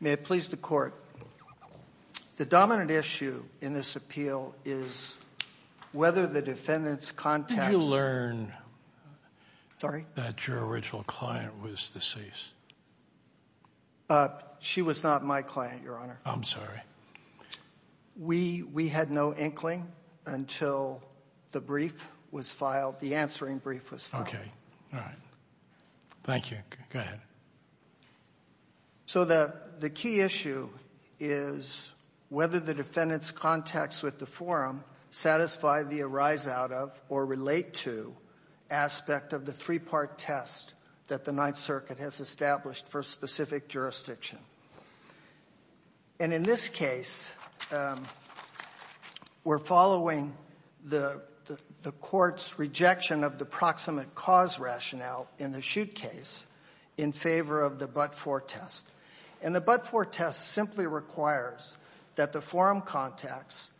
May it please the Court. The dominant issue in this appeal is whether the defendant's contacts... Did you learn that your original client was deceased? She was not my client, Your Honor. I'm sorry. We had no inkling until the brief was filed, the answering brief was filed. Okay. All right. Thank you. Go ahead. So the key issue is whether the defendant's contacts with the forum satisfy the arise-out-of or relate-to aspect of the three-part test that the Ninth Circuit has established for a specific jurisdiction. And in this case, we're following the court's rejection of the proximate cause rationale in the shoot case in favor of the but-for test. And the but-for test simply requires that the forum contacts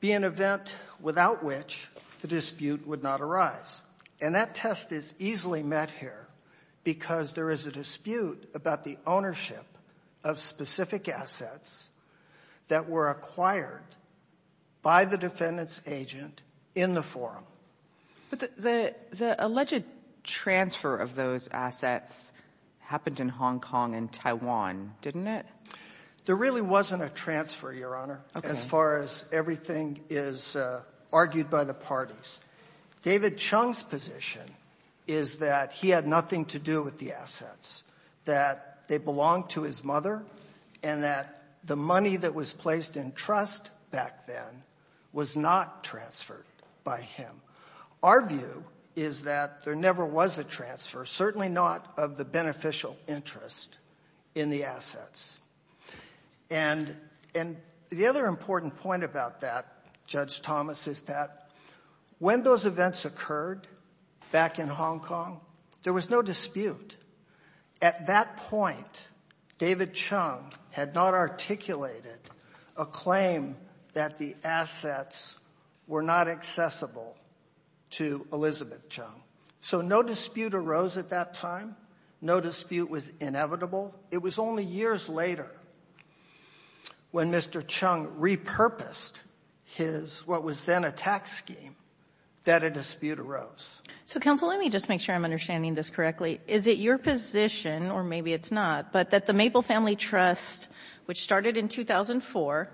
be an event without which the dispute would not arise. And that test is easily met here because there is a dispute about the ownership of specific assets that were acquired by the defendant's agent in the forum. But the alleged transfer of those assets happened in Hong Kong and Taiwan, didn't it? There really wasn't a transfer, Your Honor, as far as everything is argued by the parties. David Chung's position is that he had nothing to do with the assets, that they belonged to his mother, and that the money that was placed in trust back then was not transferred by him. Our view is that there never was a transfer, certainly not of the beneficial interest in the assets. And the other important point about that, Judge Thomas, is that when those events occurred back in Hong Kong, there was no dispute. At that point, David Chung had not articulated a claim that the assets were not accessible to Elizabeth Chung. So no dispute arose at that time. No dispute was inevitable. It was only years later when Mr. Chung repurposed his, what was then a tax scheme, that a dispute arose. So, counsel, let me just make sure I'm understanding this correctly. Is it your position, or maybe it's not, but that the Maple Family Trust, which started in 2004,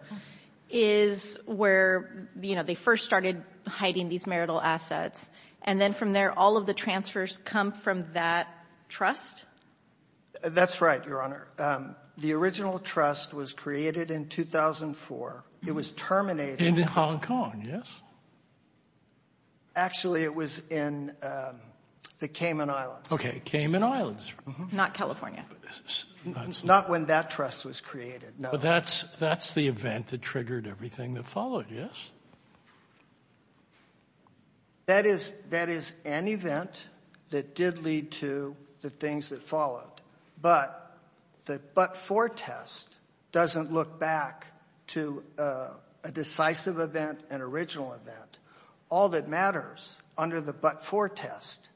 is where, you know, they first started hiding these marital assets, and then from there all of the transfers come from that trust? That's right, Your Honor. The original trust was created in 2004. It was terminated. In Hong Kong, yes? Actually, it was in the Cayman Islands. Okay, Cayman Islands. Not California. Not when that trust was created, no. But that's the event that triggered everything that followed, yes? That is an event that did lead to the things that followed. But the but-for test doesn't look back to a decisive event, an original event. All that matters under the but-for test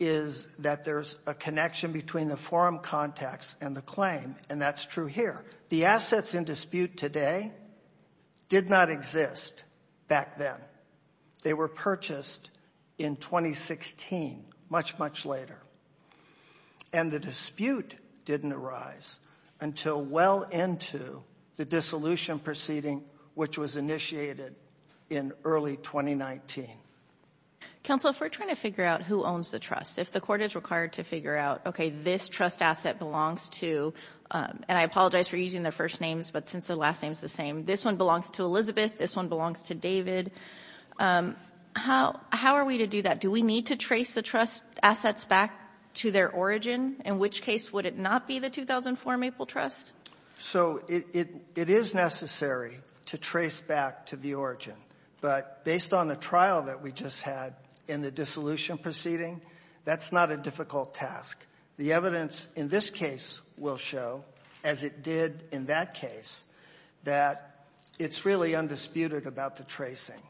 is that there's a connection between the forum context and the claim, and that's true here. The assets in dispute today did not exist back then. They were purchased in 2016, much, much later. And the dispute didn't arise until well into the dissolution proceeding, which was initiated in early 2019. Counsel, if we're trying to figure out who owns the trust, if the court is required to figure out, okay, this trust asset belongs to, and I apologize for using the first names, but since the last name is the same, this one belongs to Elizabeth, this one belongs to David, how are we to do that? Do we need to trace the trust assets back to their origin? In which case would it not be the 2004 Maple Trust? So it is necessary to trace back to the origin. But based on the trial that we just had in the dissolution proceeding, that's not a difficult task. The evidence in this case will show, as it did in that case, that it's really undisputed about the tracing.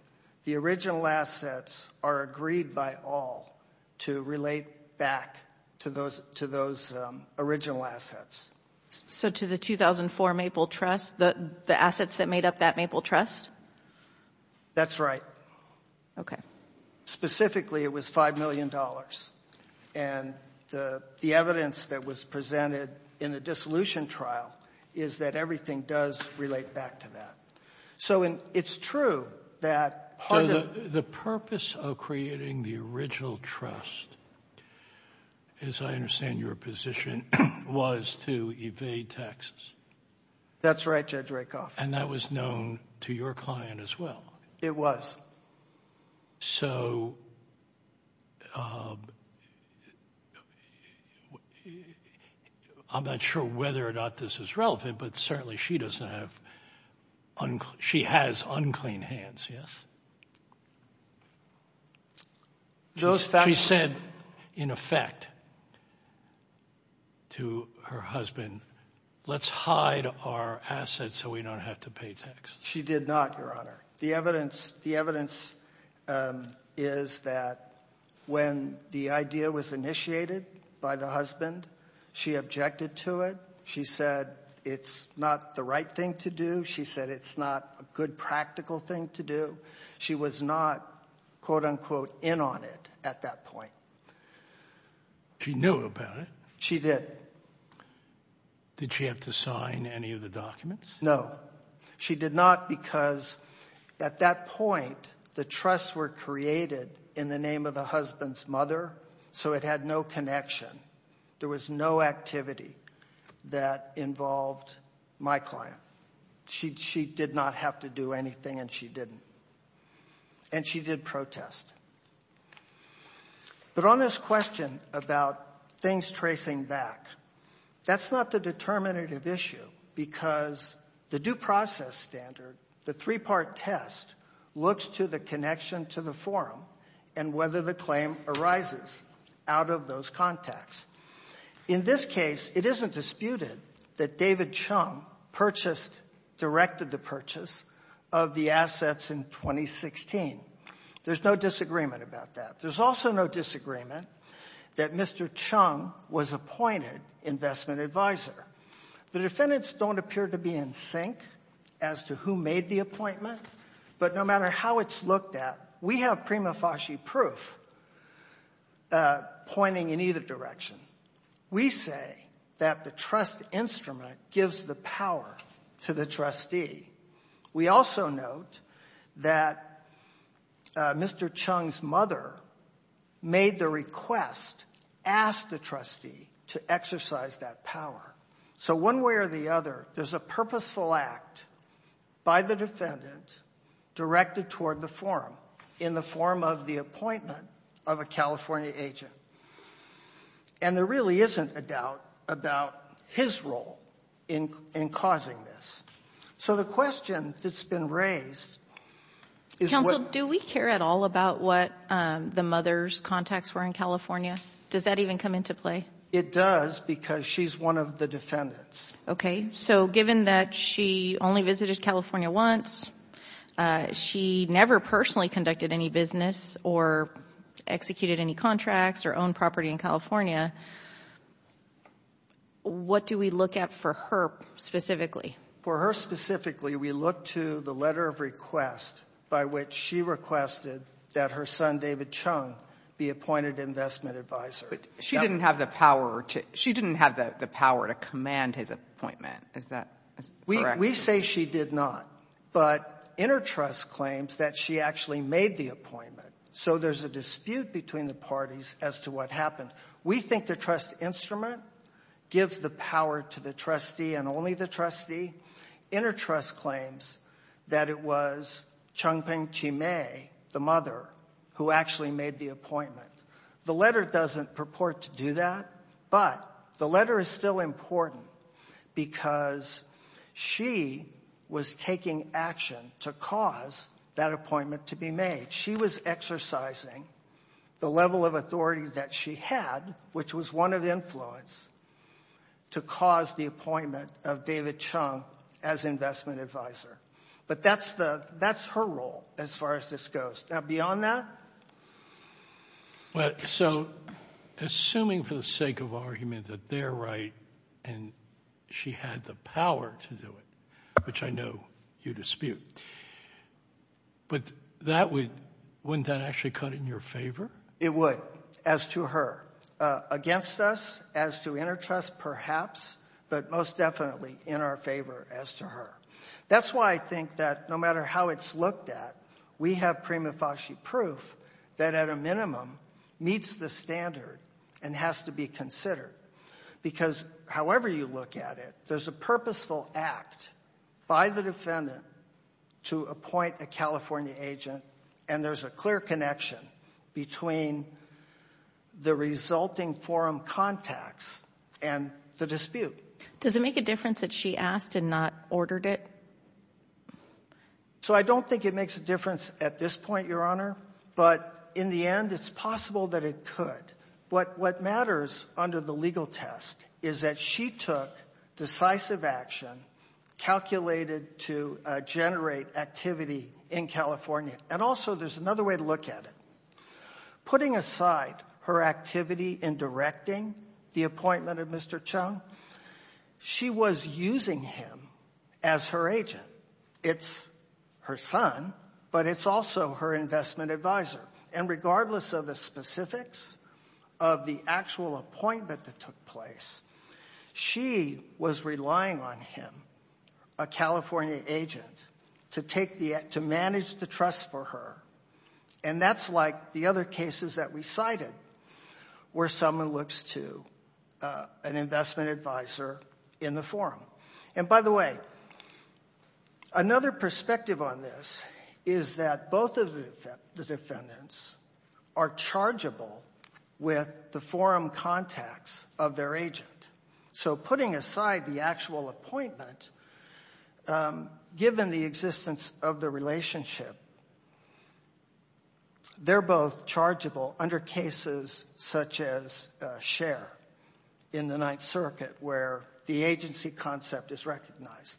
The original assets are agreed by all to relate back to those original assets. So to the 2004 Maple Trust, the assets that made up that Maple Trust? That's right. Okay. Specifically, it was $5 million. And the evidence that was presented in the dissolution trial is that everything does relate back to that. The purpose of creating the original trust, as I understand your position, was to evade taxes. That's right, Judge Rakoff. And that was known to your client as well. It was. So I'm not sure whether or not this is relevant, but certainly she has unclean hands, yes? She said, in effect, to her husband, let's hide our assets so we don't have to pay taxes. She did not, Your Honor. The evidence is that when the idea was initiated by the husband, she objected to it. She said it's not the right thing to do. She said it's not a good practical thing to do. She was not, quote, unquote, in on it at that point. She knew about it. She did. Did she have to sign any of the documents? No. She did not because, at that point, the trusts were created in the name of the husband's mother, so it had no connection. There was no activity that involved my client. She did not have to do anything, and she didn't. And she did protest. But on this question about things tracing back, that's not the determinative issue because the due process standard, the three-part test, looks to the connection to the forum and whether the claim arises out of those contacts. In this case, it isn't disputed that David Chung purchased, directed the purchase of the assets in 2016. There's no disagreement about that. There's also no disagreement that Mr. Chung was appointed investment advisor. The defendants don't appear to be in sync as to who made the appointment, but no matter how it's looked at, we have prima facie proof pointing in either direction. We say that the trust instrument gives the power to the trustee. We also note that Mr. Chung's mother made the request, asked the trustee to exercise that power. So one way or the other, there's a purposeful act by the defendant directed toward the forum in the form of the appointment of a California agent. And there really isn't a doubt about his role in causing this. So the question that's been raised is what — Counsel, do we care at all about what the mother's contacts were in California? Does that even come into play? It does because she's one of the defendants. Okay. So given that she only visited California once, she never personally conducted any business or executed any contracts or owned property in California, what do we look at for her specifically? For her specifically, we look to the letter of request by which she requested that her son David Chung be appointed investment advisor. But she didn't have the power to command his appointment. Is that correct? We say she did not, but InterTrust claims that she actually made the appointment. So there's a dispute between the parties as to what happened. We think the trust instrument gives the power to the trustee and only the trustee. InterTrust claims that it was Chung Ping Chi May, the mother, who actually made the appointment. The letter doesn't purport to do that, but the letter is still important because she was taking action to cause that appointment to be made. She was exercising the level of authority that she had, which was one of influence, to cause the appointment of David Chung as investment advisor. But that's her role as far as this goes. Now, beyond that? So assuming for the sake of argument that they're right and she had the power to do it, which I know you dispute, but wouldn't that actually cut in your favor? It would, as to her. Against us, as to InterTrust, perhaps, but most definitely in our favor as to her. That's why I think that no matter how it's looked at, we have prima facie proof that at a minimum meets the standard and has to be considered because however you look at it, there's a purposeful act by the defendant to appoint a California agent and there's a clear connection between the resulting forum contacts and the dispute. Does it make a difference that she asked and not ordered it? So I don't think it makes a difference at this point, Your Honor, but in the end, it's possible that it could. But what matters under the legal test is that she took decisive action calculated to generate activity in California. And also there's another way to look at it. Putting aside her activity in directing the appointment of Mr. Chung, she was using him as her agent. It's her son, but it's also her investment advisor. And regardless of the specifics of the actual appointment that took place, she was relying on him, a California agent, to manage the trust for her. And that's like the other cases that we cited where someone looks to an investment advisor in the forum. And by the way, another perspective on this is that both of the defendants are chargeable with the forum contacts of their agent. So putting aside the actual appointment, given the existence of the relationship, they're both chargeable under cases such as Scher in the Ninth Circuit where the agency concept is recognized.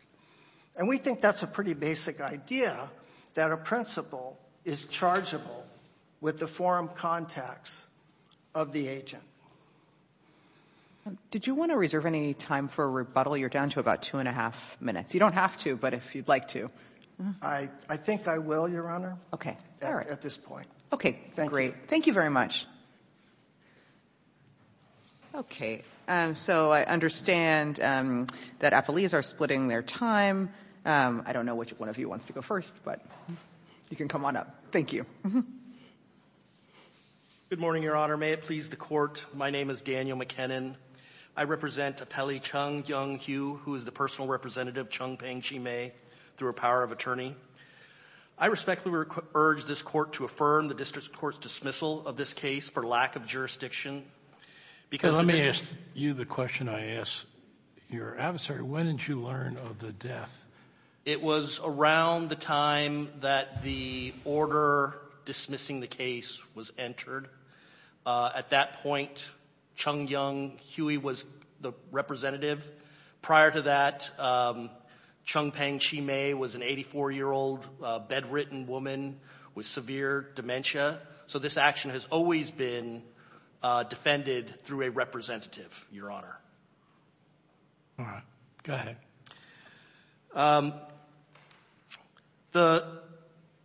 And we think that's a pretty basic idea that a principal is chargeable with the forum contacts of the agent. Did you want to reserve any time for a rebuttal? You're down to about two and a half minutes. You don't have to, but if you'd like to. I think I will, Your Honor. Okay. At this point. Okay. Great. Thank you very much. Okay. So I understand that appellees are splitting their time. I don't know which one of you wants to go first, but you can come on up. Thank you. Good morning, Your Honor. May it please the Court. My name is Daniel McKinnon. I represent Appellee Chung Young-Hyu, who is the personal representative, Chung Peng-Chee May, through a power of attorney. I respectfully urge this Court to affirm the district court's dismissal of this case for lack of jurisdiction. Let me ask you the question I asked your adversary. When did you learn of the death? It was around the time that the order dismissing the case was entered. At that point, Chung Young-Hyu was the representative. Prior to that, Chung Peng-Chee May was an 84-year-old bedridden woman with severe dementia. So this action has always been defended through a representative, Your Honor. All right. Go ahead.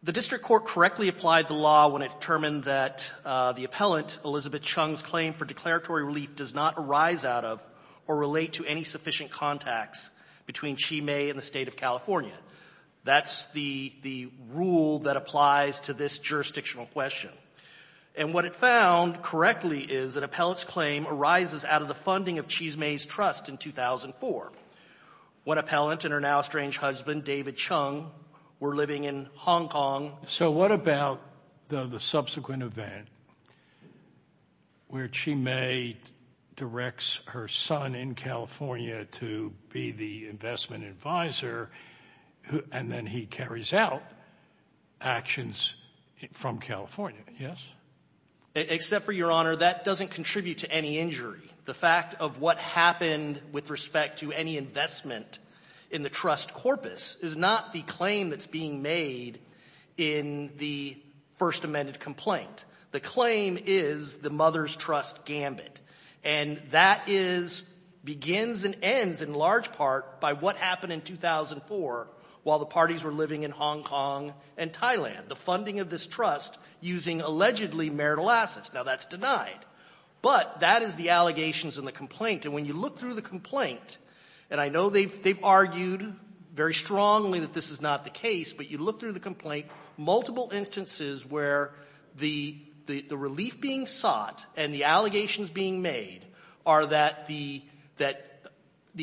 The district court correctly applied the law when it determined that the appellant, Elizabeth Chung's claim for declaratory relief, does not arise out of or relate to any sufficient contacts between Chee May and the State of California. That's the rule that applies to this jurisdictional question. And what it found correctly is that appellate's claim arises out of the funding of Chee May's trust in 2004. When appellant and her now estranged husband, David Chung, were living in Hong Kong. So what about the subsequent event where Chee May directs her son in California to be the investment advisor and then he carries out actions from California, yes? Except for, Your Honor, that doesn't contribute to any injury. The fact of what happened with respect to any investment in the trust corpus is not the claim that's being made in the First Amendment complaint. The claim is the mother's trust gambit. And that begins and ends in large part by what happened in 2004 while the parties were living in Hong Kong and Thailand, the funding of this trust using allegedly marital assets. Now, that's denied. But that is the allegations in the complaint. And when you look through the complaint, and I know they've argued very strongly that this is not the case, but you look through the complaint, multiple instances where the relief being sought and the allegations being made are that the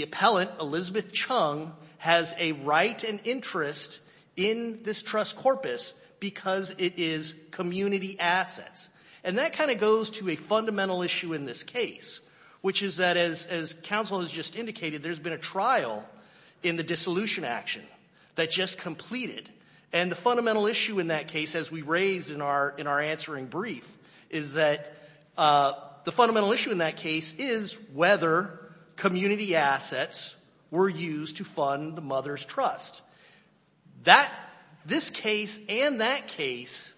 appellant, Elizabeth Chung, has a right and interest in this trust corpus because it is community assets. And that kind of goes to a fundamental issue in this case, which is that, as counsel has just indicated, there's been a trial in the dissolution action that just completed. And the fundamental issue in that case, as we raised in our answering brief, is that the fundamental issue in that case is whether community assets were used to fund the mother's trust. This case and that case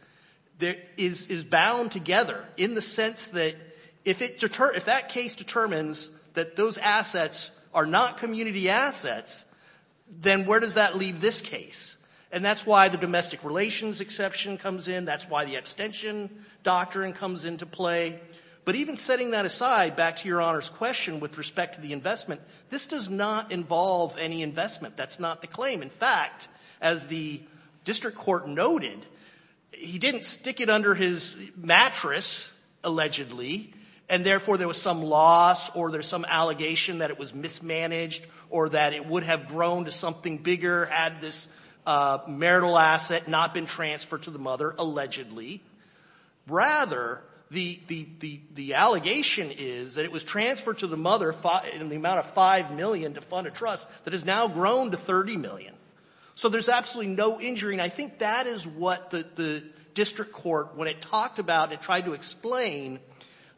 is bound together in the sense that if that case determines that those assets are not community assets, then where does that leave this case? And that's why the domestic relations exception comes in. That's why the abstention doctrine comes into play. But even setting that aside, back to Your Honor's question with respect to the investment, this does not involve any investment. That's not the claim. In fact, as the district court noted, he didn't stick it under his mattress, allegedly, and therefore there was some loss or there's some allegation that it was mismanaged or that it would have grown to something bigger had this marital asset not been transferred to the mother, allegedly. Rather, the allegation is that it was transferred to the mother in the amount of $5 million to fund a trust that has now grown to $30 million. So there's absolutely no injury, and I think that is what the district court, when it talked about and tried to explain,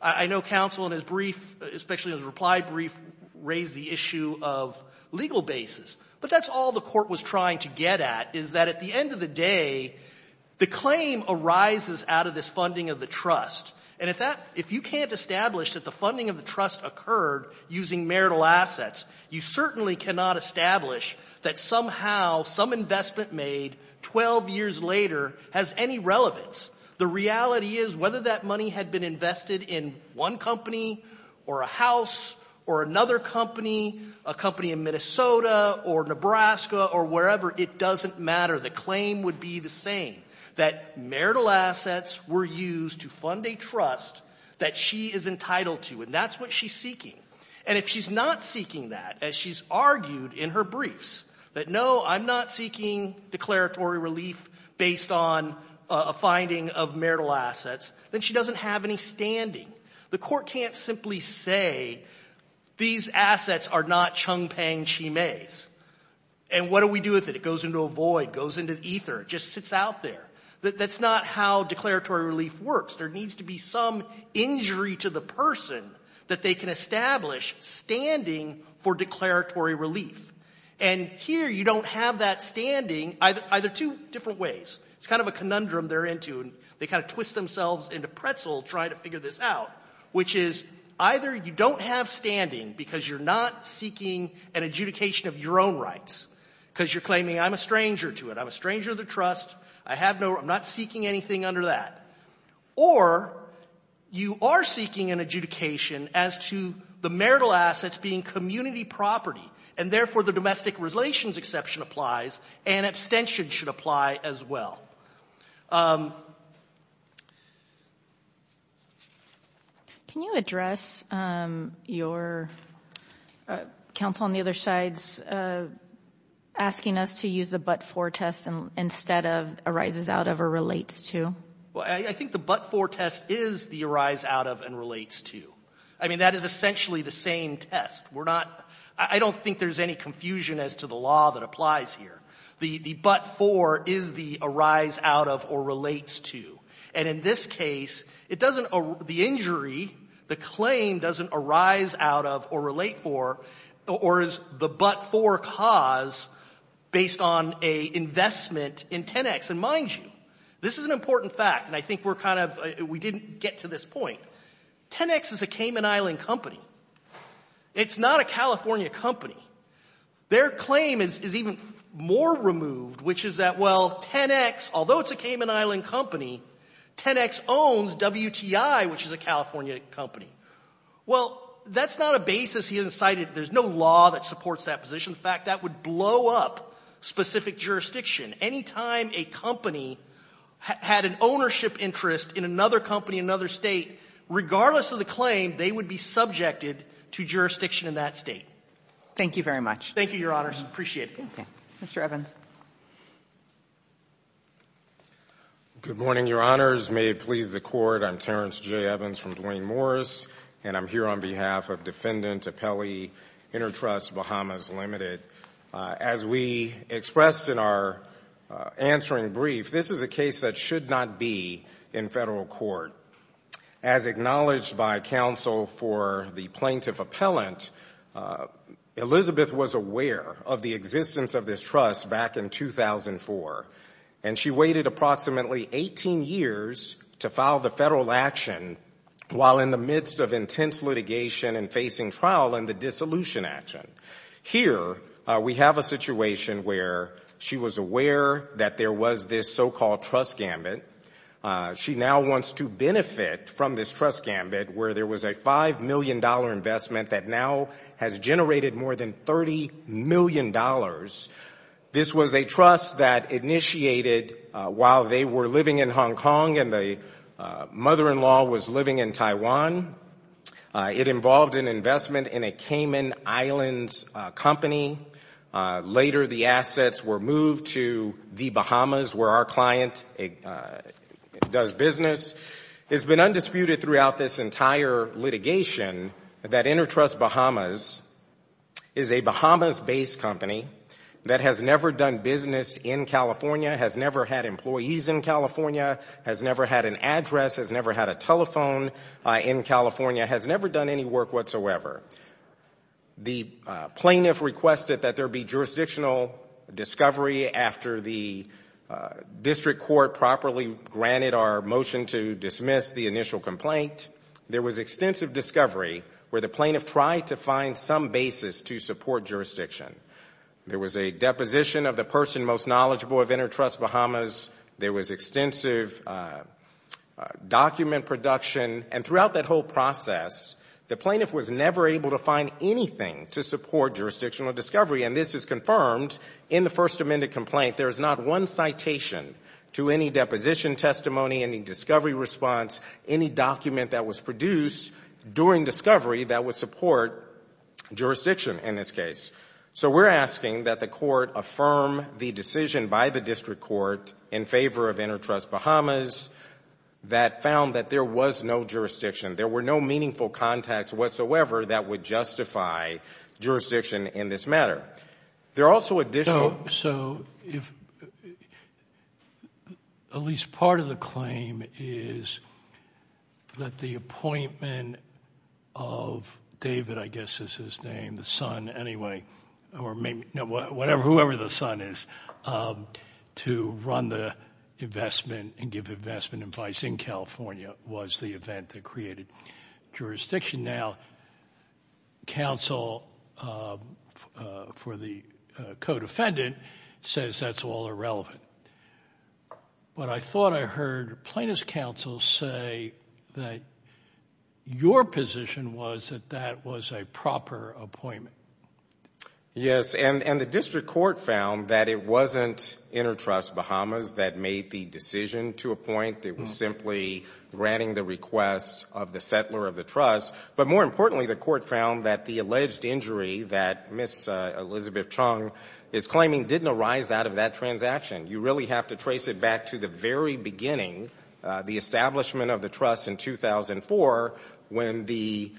I know counsel in his brief, especially in his reply brief, raised the issue of legal basis. But that's all the court was trying to get at, is that at the end of the day, the claim arises out of this funding of the trust. And if you can't establish that the funding of the trust occurred using marital assets, you certainly cannot establish that somehow some investment made 12 years later has any relevance. The reality is whether that money had been invested in one company or a house or another company, a company in Minnesota or Nebraska or wherever, it doesn't matter. The claim would be the same, that marital assets were used to fund a trust that she is entitled to, and that's what she's seeking. And if she's not seeking that, as she's argued in her briefs, that no, I'm not seeking declaratory relief based on a finding of marital assets, then she doesn't have any standing. The court can't simply say these assets are not Chung-Pang Chi-Mes, and what do we do with it? It goes into a void. It goes into ether. It just sits out there. That's not how declaratory relief works. There needs to be some injury to the person that they can establish standing for declaratory relief. And here you don't have that standing either two different ways. It's kind of a conundrum they're into, and they kind of twist themselves into pretzel trying to figure this out, which is either you don't have standing because you're not seeking an adjudication of your own rights because you're claiming I'm a stranger to it, I'm a stranger to the trust, I have no --" I'm not seeking anything under that. Or you are seeking an adjudication as to the marital assets being community property, and therefore the domestic relations exception applies, and abstention should apply as well. Can you address your counsel on the other side's asking us to use the but-for test instead of arises out of or relates to? Well, I think the but-for test is the arise out of and relates to. I mean, that is essentially the same test. We're not – I don't think there's any confusion as to the law that applies here. The but-for is the arise out of or relates to. And in this case, it doesn't – the injury, the claim doesn't arise out of or relate for or is the but-for cause based on an investment in 10X. And mind you, this is an important fact, and I think we're kind of – we didn't get to this point. 10X is a Cayman Island company. It's not a California company. Their claim is even more removed, which is that, well, 10X, although it's a Cayman Island company, 10X owns WTI, which is a California company. Well, that's not a basis he incited. There's no law that supports that position. In fact, that would blow up specific jurisdiction. Any time a company had an ownership interest in another company in another State, regardless of the claim, they would be subjected to jurisdiction in that State. Thank you very much. Thank you, Your Honors. Appreciate it. Okay. Mr. Evans. Good morning, Your Honors. May it please the Court, I'm Terrence J. Evans from Duane Morris, and I'm here on behalf of Defendant Appellee Intertrust Bahamas Limited. As we expressed in our answering brief, this is a case that should not be in federal court. As acknowledged by counsel for the plaintiff appellant, Elizabeth was aware of the existence of this trust back in 2004, and she waited approximately 18 years to file the federal action while in the midst of intense litigation and facing trial in the dissolution action. Here, we have a situation where she was aware that there was this so-called trust gambit. She now wants to benefit from this trust gambit where there was a $5 million investment that now has generated more than $30 million. This was a trust that initiated while they were living in Hong Kong and the mother-in-law was living in Taiwan. It involved an investment in a Cayman Islands company. Later, the assets were moved to the Bahamas where our client does business. It's been undisputed throughout this entire litigation that Intertrust Bahamas is a Bahamas-based company that has never done business in California, has never had employees in California, has never had an address, has never had a telephone in California, has never done any work whatsoever. The plaintiff requested that there be jurisdictional discovery after the district court properly granted our motion to dismiss the initial complaint. There was extensive discovery where the plaintiff tried to find some basis to support jurisdiction. There was a deposition of the person most knowledgeable of Intertrust Bahamas. There was extensive document production. And throughout that whole process, the plaintiff was never able to find anything to support jurisdictional discovery. And this is confirmed in the First Amendment complaint. There is not one citation to any deposition testimony, any discovery response, any document that was produced during discovery that would support jurisdiction in this case. So we're asking that the court affirm the decision by the district court in favor of There were no meaningful contacts whatsoever that would justify jurisdiction in this matter. There are also additional So if at least part of the claim is that the appointment of David, I guess is his name, the son anyway, or maybe, whatever, whoever the son is, to run the investment and give investment advice in California was the event that created jurisdiction. Now, counsel for the co-defendant says that's all irrelevant. But I thought I heard plaintiff's counsel say that your position was that that was a proper appointment. Yes, and the district court found that it wasn't InterTrust Bahamas that made the decision to appoint. It was simply granting the request of the settler of the trust. But more importantly, the court found that the alleged injury that Ms. Elizabeth Chung is claiming didn't arise out of that transaction. You really have to trace it back to the very beginning, the establishment of the trust in 2004, when the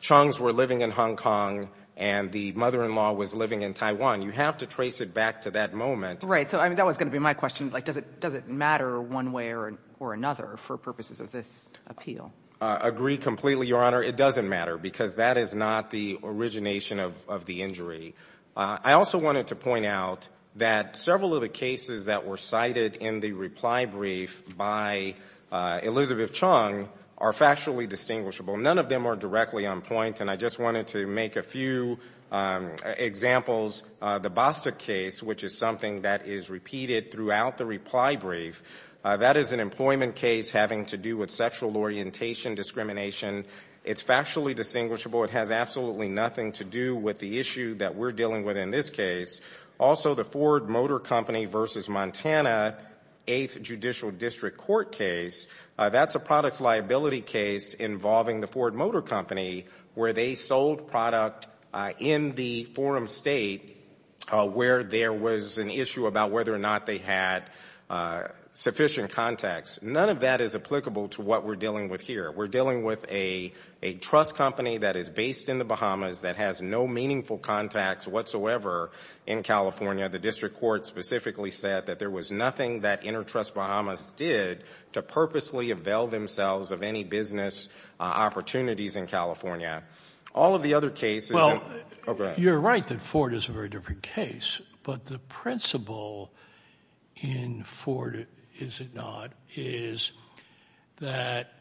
Chung's were living in Hong Kong and the mother-in-law was living in Taiwan. You have to trace it back to that moment. Right. So that was going to be my question. Does it matter one way or another for purposes of this appeal? I agree completely, Your Honor. It doesn't matter because that is not the origination of the injury. I also wanted to point out that several of the cases that were cited in the reply brief by Elizabeth Chung are factually distinguishable. None of them are directly on point, and I just wanted to make a few examples. The Bostic case, which is something that is repeated throughout the reply brief, that is an employment case having to do with sexual orientation discrimination. It's factually distinguishable. It has absolutely nothing to do with the issue that we're dealing with in this case. Also, the Ford Motor Company v. Montana 8th Judicial District Court case, that's a products liability case involving the Ford Motor Company where they sold product in the forum state where there was an issue about whether or not they had sufficient contacts. None of that is applicable to what we're dealing with here. We're dealing with a trust company that is based in the Bahamas that has no meaningful contacts whatsoever in California. The district court specifically said that there was nothing that InterTrust Bahamas did to purposely avail themselves of any business opportunities in California. All of the other cases— Well, you're right that Ford is a very different case, but the principle in Ford, is it not, is that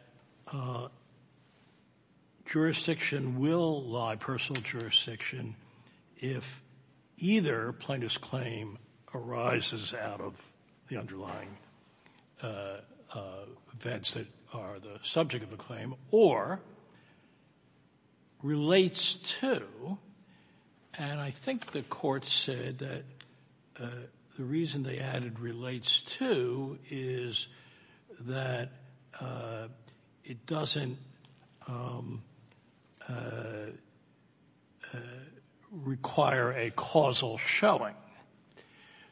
jurisdiction will lie, personal jurisdiction, if either plaintiff's claim arises out of the underlying vets that are the subject of the claim, or relates to, and I think the court said that the reason they added relates to, is that it doesn't require a causal showing.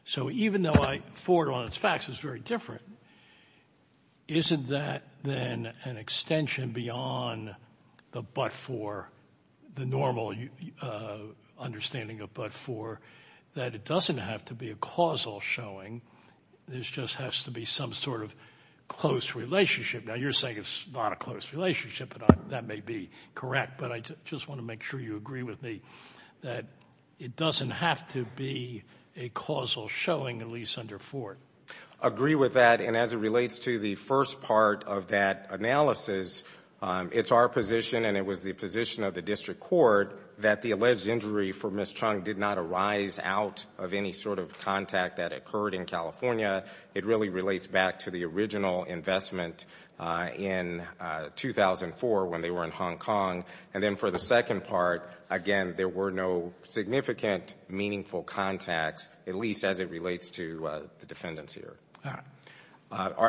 So even though Ford on its facts is very different, isn't that then an extension beyond the but-for, the normal understanding of but-for, that it doesn't have to be a causal showing, there just has to be some sort of close relationship. Now you're saying it's not a close relationship, and that may be correct, but I just want to make sure you agree with me that it doesn't have to be a causal showing, at least under Ford. Agree with that, and as it relates to the first part of that analysis, it's our position, and it was the position of the district court, that the alleged injury for Ms. Chung did not arise out of any sort of contact that occurred in California. It really relates back to the original investment in 2004 when they were in Hong Kong. And then for the second part, again, there were no significant, meaningful contacts, at least as it relates to the defendants here. All right.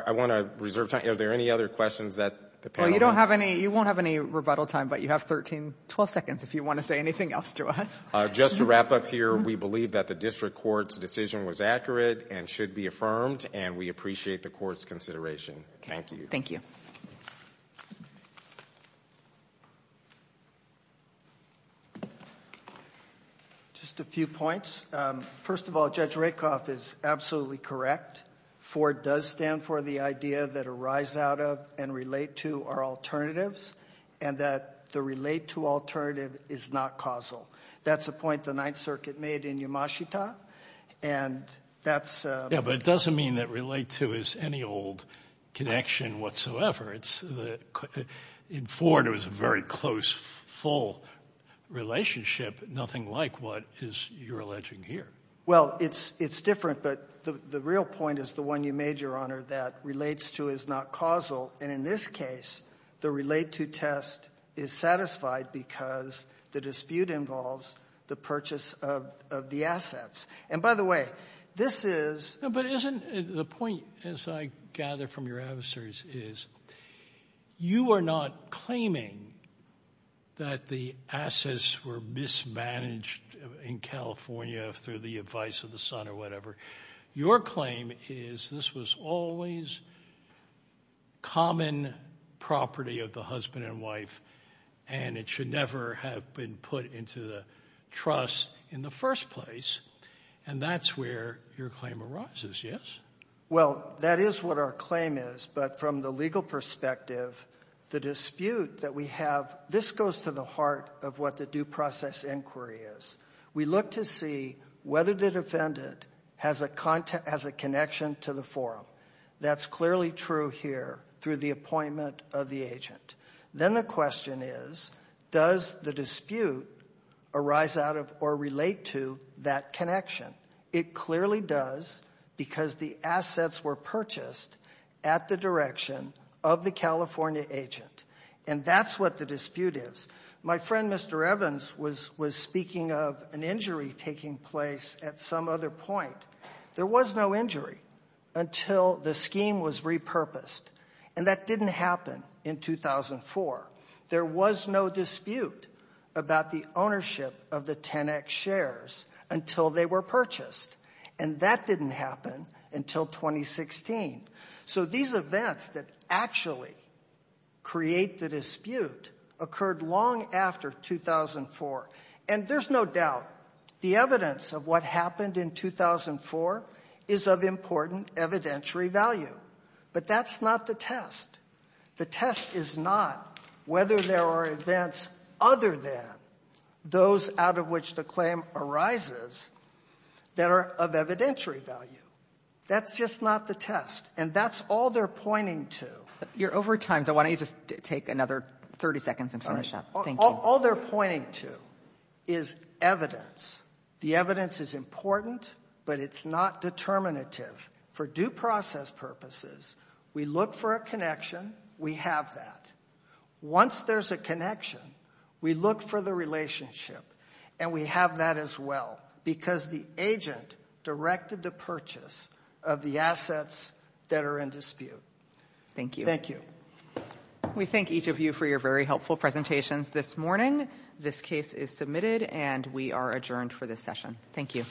I want to reserve time. Are there any other questions that the panel has? Well, you don't have any, you won't have any rebuttal time, but you have 13, 12 seconds, if you want to say anything else to us. Just to wrap up here, we believe that the district court's decision was accurate and should be affirmed, and we appreciate the court's consideration. Thank you. Thank you. Just a few points. First of all, Judge Rakoff is absolutely correct. Ford does stand for the idea that arise out of and relate to are alternatives, and that the relate to alternative is not causal. That's a point the Ninth Circuit made in Yamashita, and that's a... Yeah, but it doesn't mean that relate to is any old connection whatsoever. In Ford, it was a very close, full relationship. Nothing like what is your alleging here. Well, it's different, but the real point is the one you made, Your Honor, that relates to is not causal. And in this case, the relate to test is satisfied because the dispute involves the purchase of the assets. And by the way, this is... But isn't the point, as I gather from your answers, is you are not claiming that the assets were mismanaged in California through the advice of the sun or whatever. Your claim is this was always common property of the husband and wife, and it should never have been put into the trust in the first place. And that's where your claim arises, yes? Well, that is what our claim is, but from the legal perspective, the dispute that we have, this goes to the heart of what the due process inquiry is. We look to see whether the defendant has a connection to the forum. That's clearly true here through the appointment of the agent. Then the question is, does the dispute arise out of or relate to that connection? It clearly does because the assets were purchased at the direction of the California agent. And that's what the dispute is. My friend Mr. Evans was speaking of an injury taking place at some other point. There was no injury until the scheme was repurposed, and that didn't happen in 2004. There was no dispute about the ownership of the 10X shares until they were purchased, and that didn't happen until 2016. So these events that actually create the dispute occurred long after 2004, and there's no doubt the evidence of what happened in 2004 is of important evidentiary value. But that's not the test. The test is not whether there are events other than those out of which the claim arises that are of evidentiary value. That's just not the test, and that's all they're pointing to. You're over time, so why don't you just take another 30 seconds and finish up. All they're pointing to is evidence. The evidence is important, but it's not determinative. For due process purposes, we look for a connection. We have that. Once there's a connection, we look for the relationship, and we have that as well because the agent directed the purchase of the assets that are in dispute. Thank you. Thank you. We thank each of you for your very helpful presentations this morning. This case is submitted, and we are adjourned for this session. Thank you.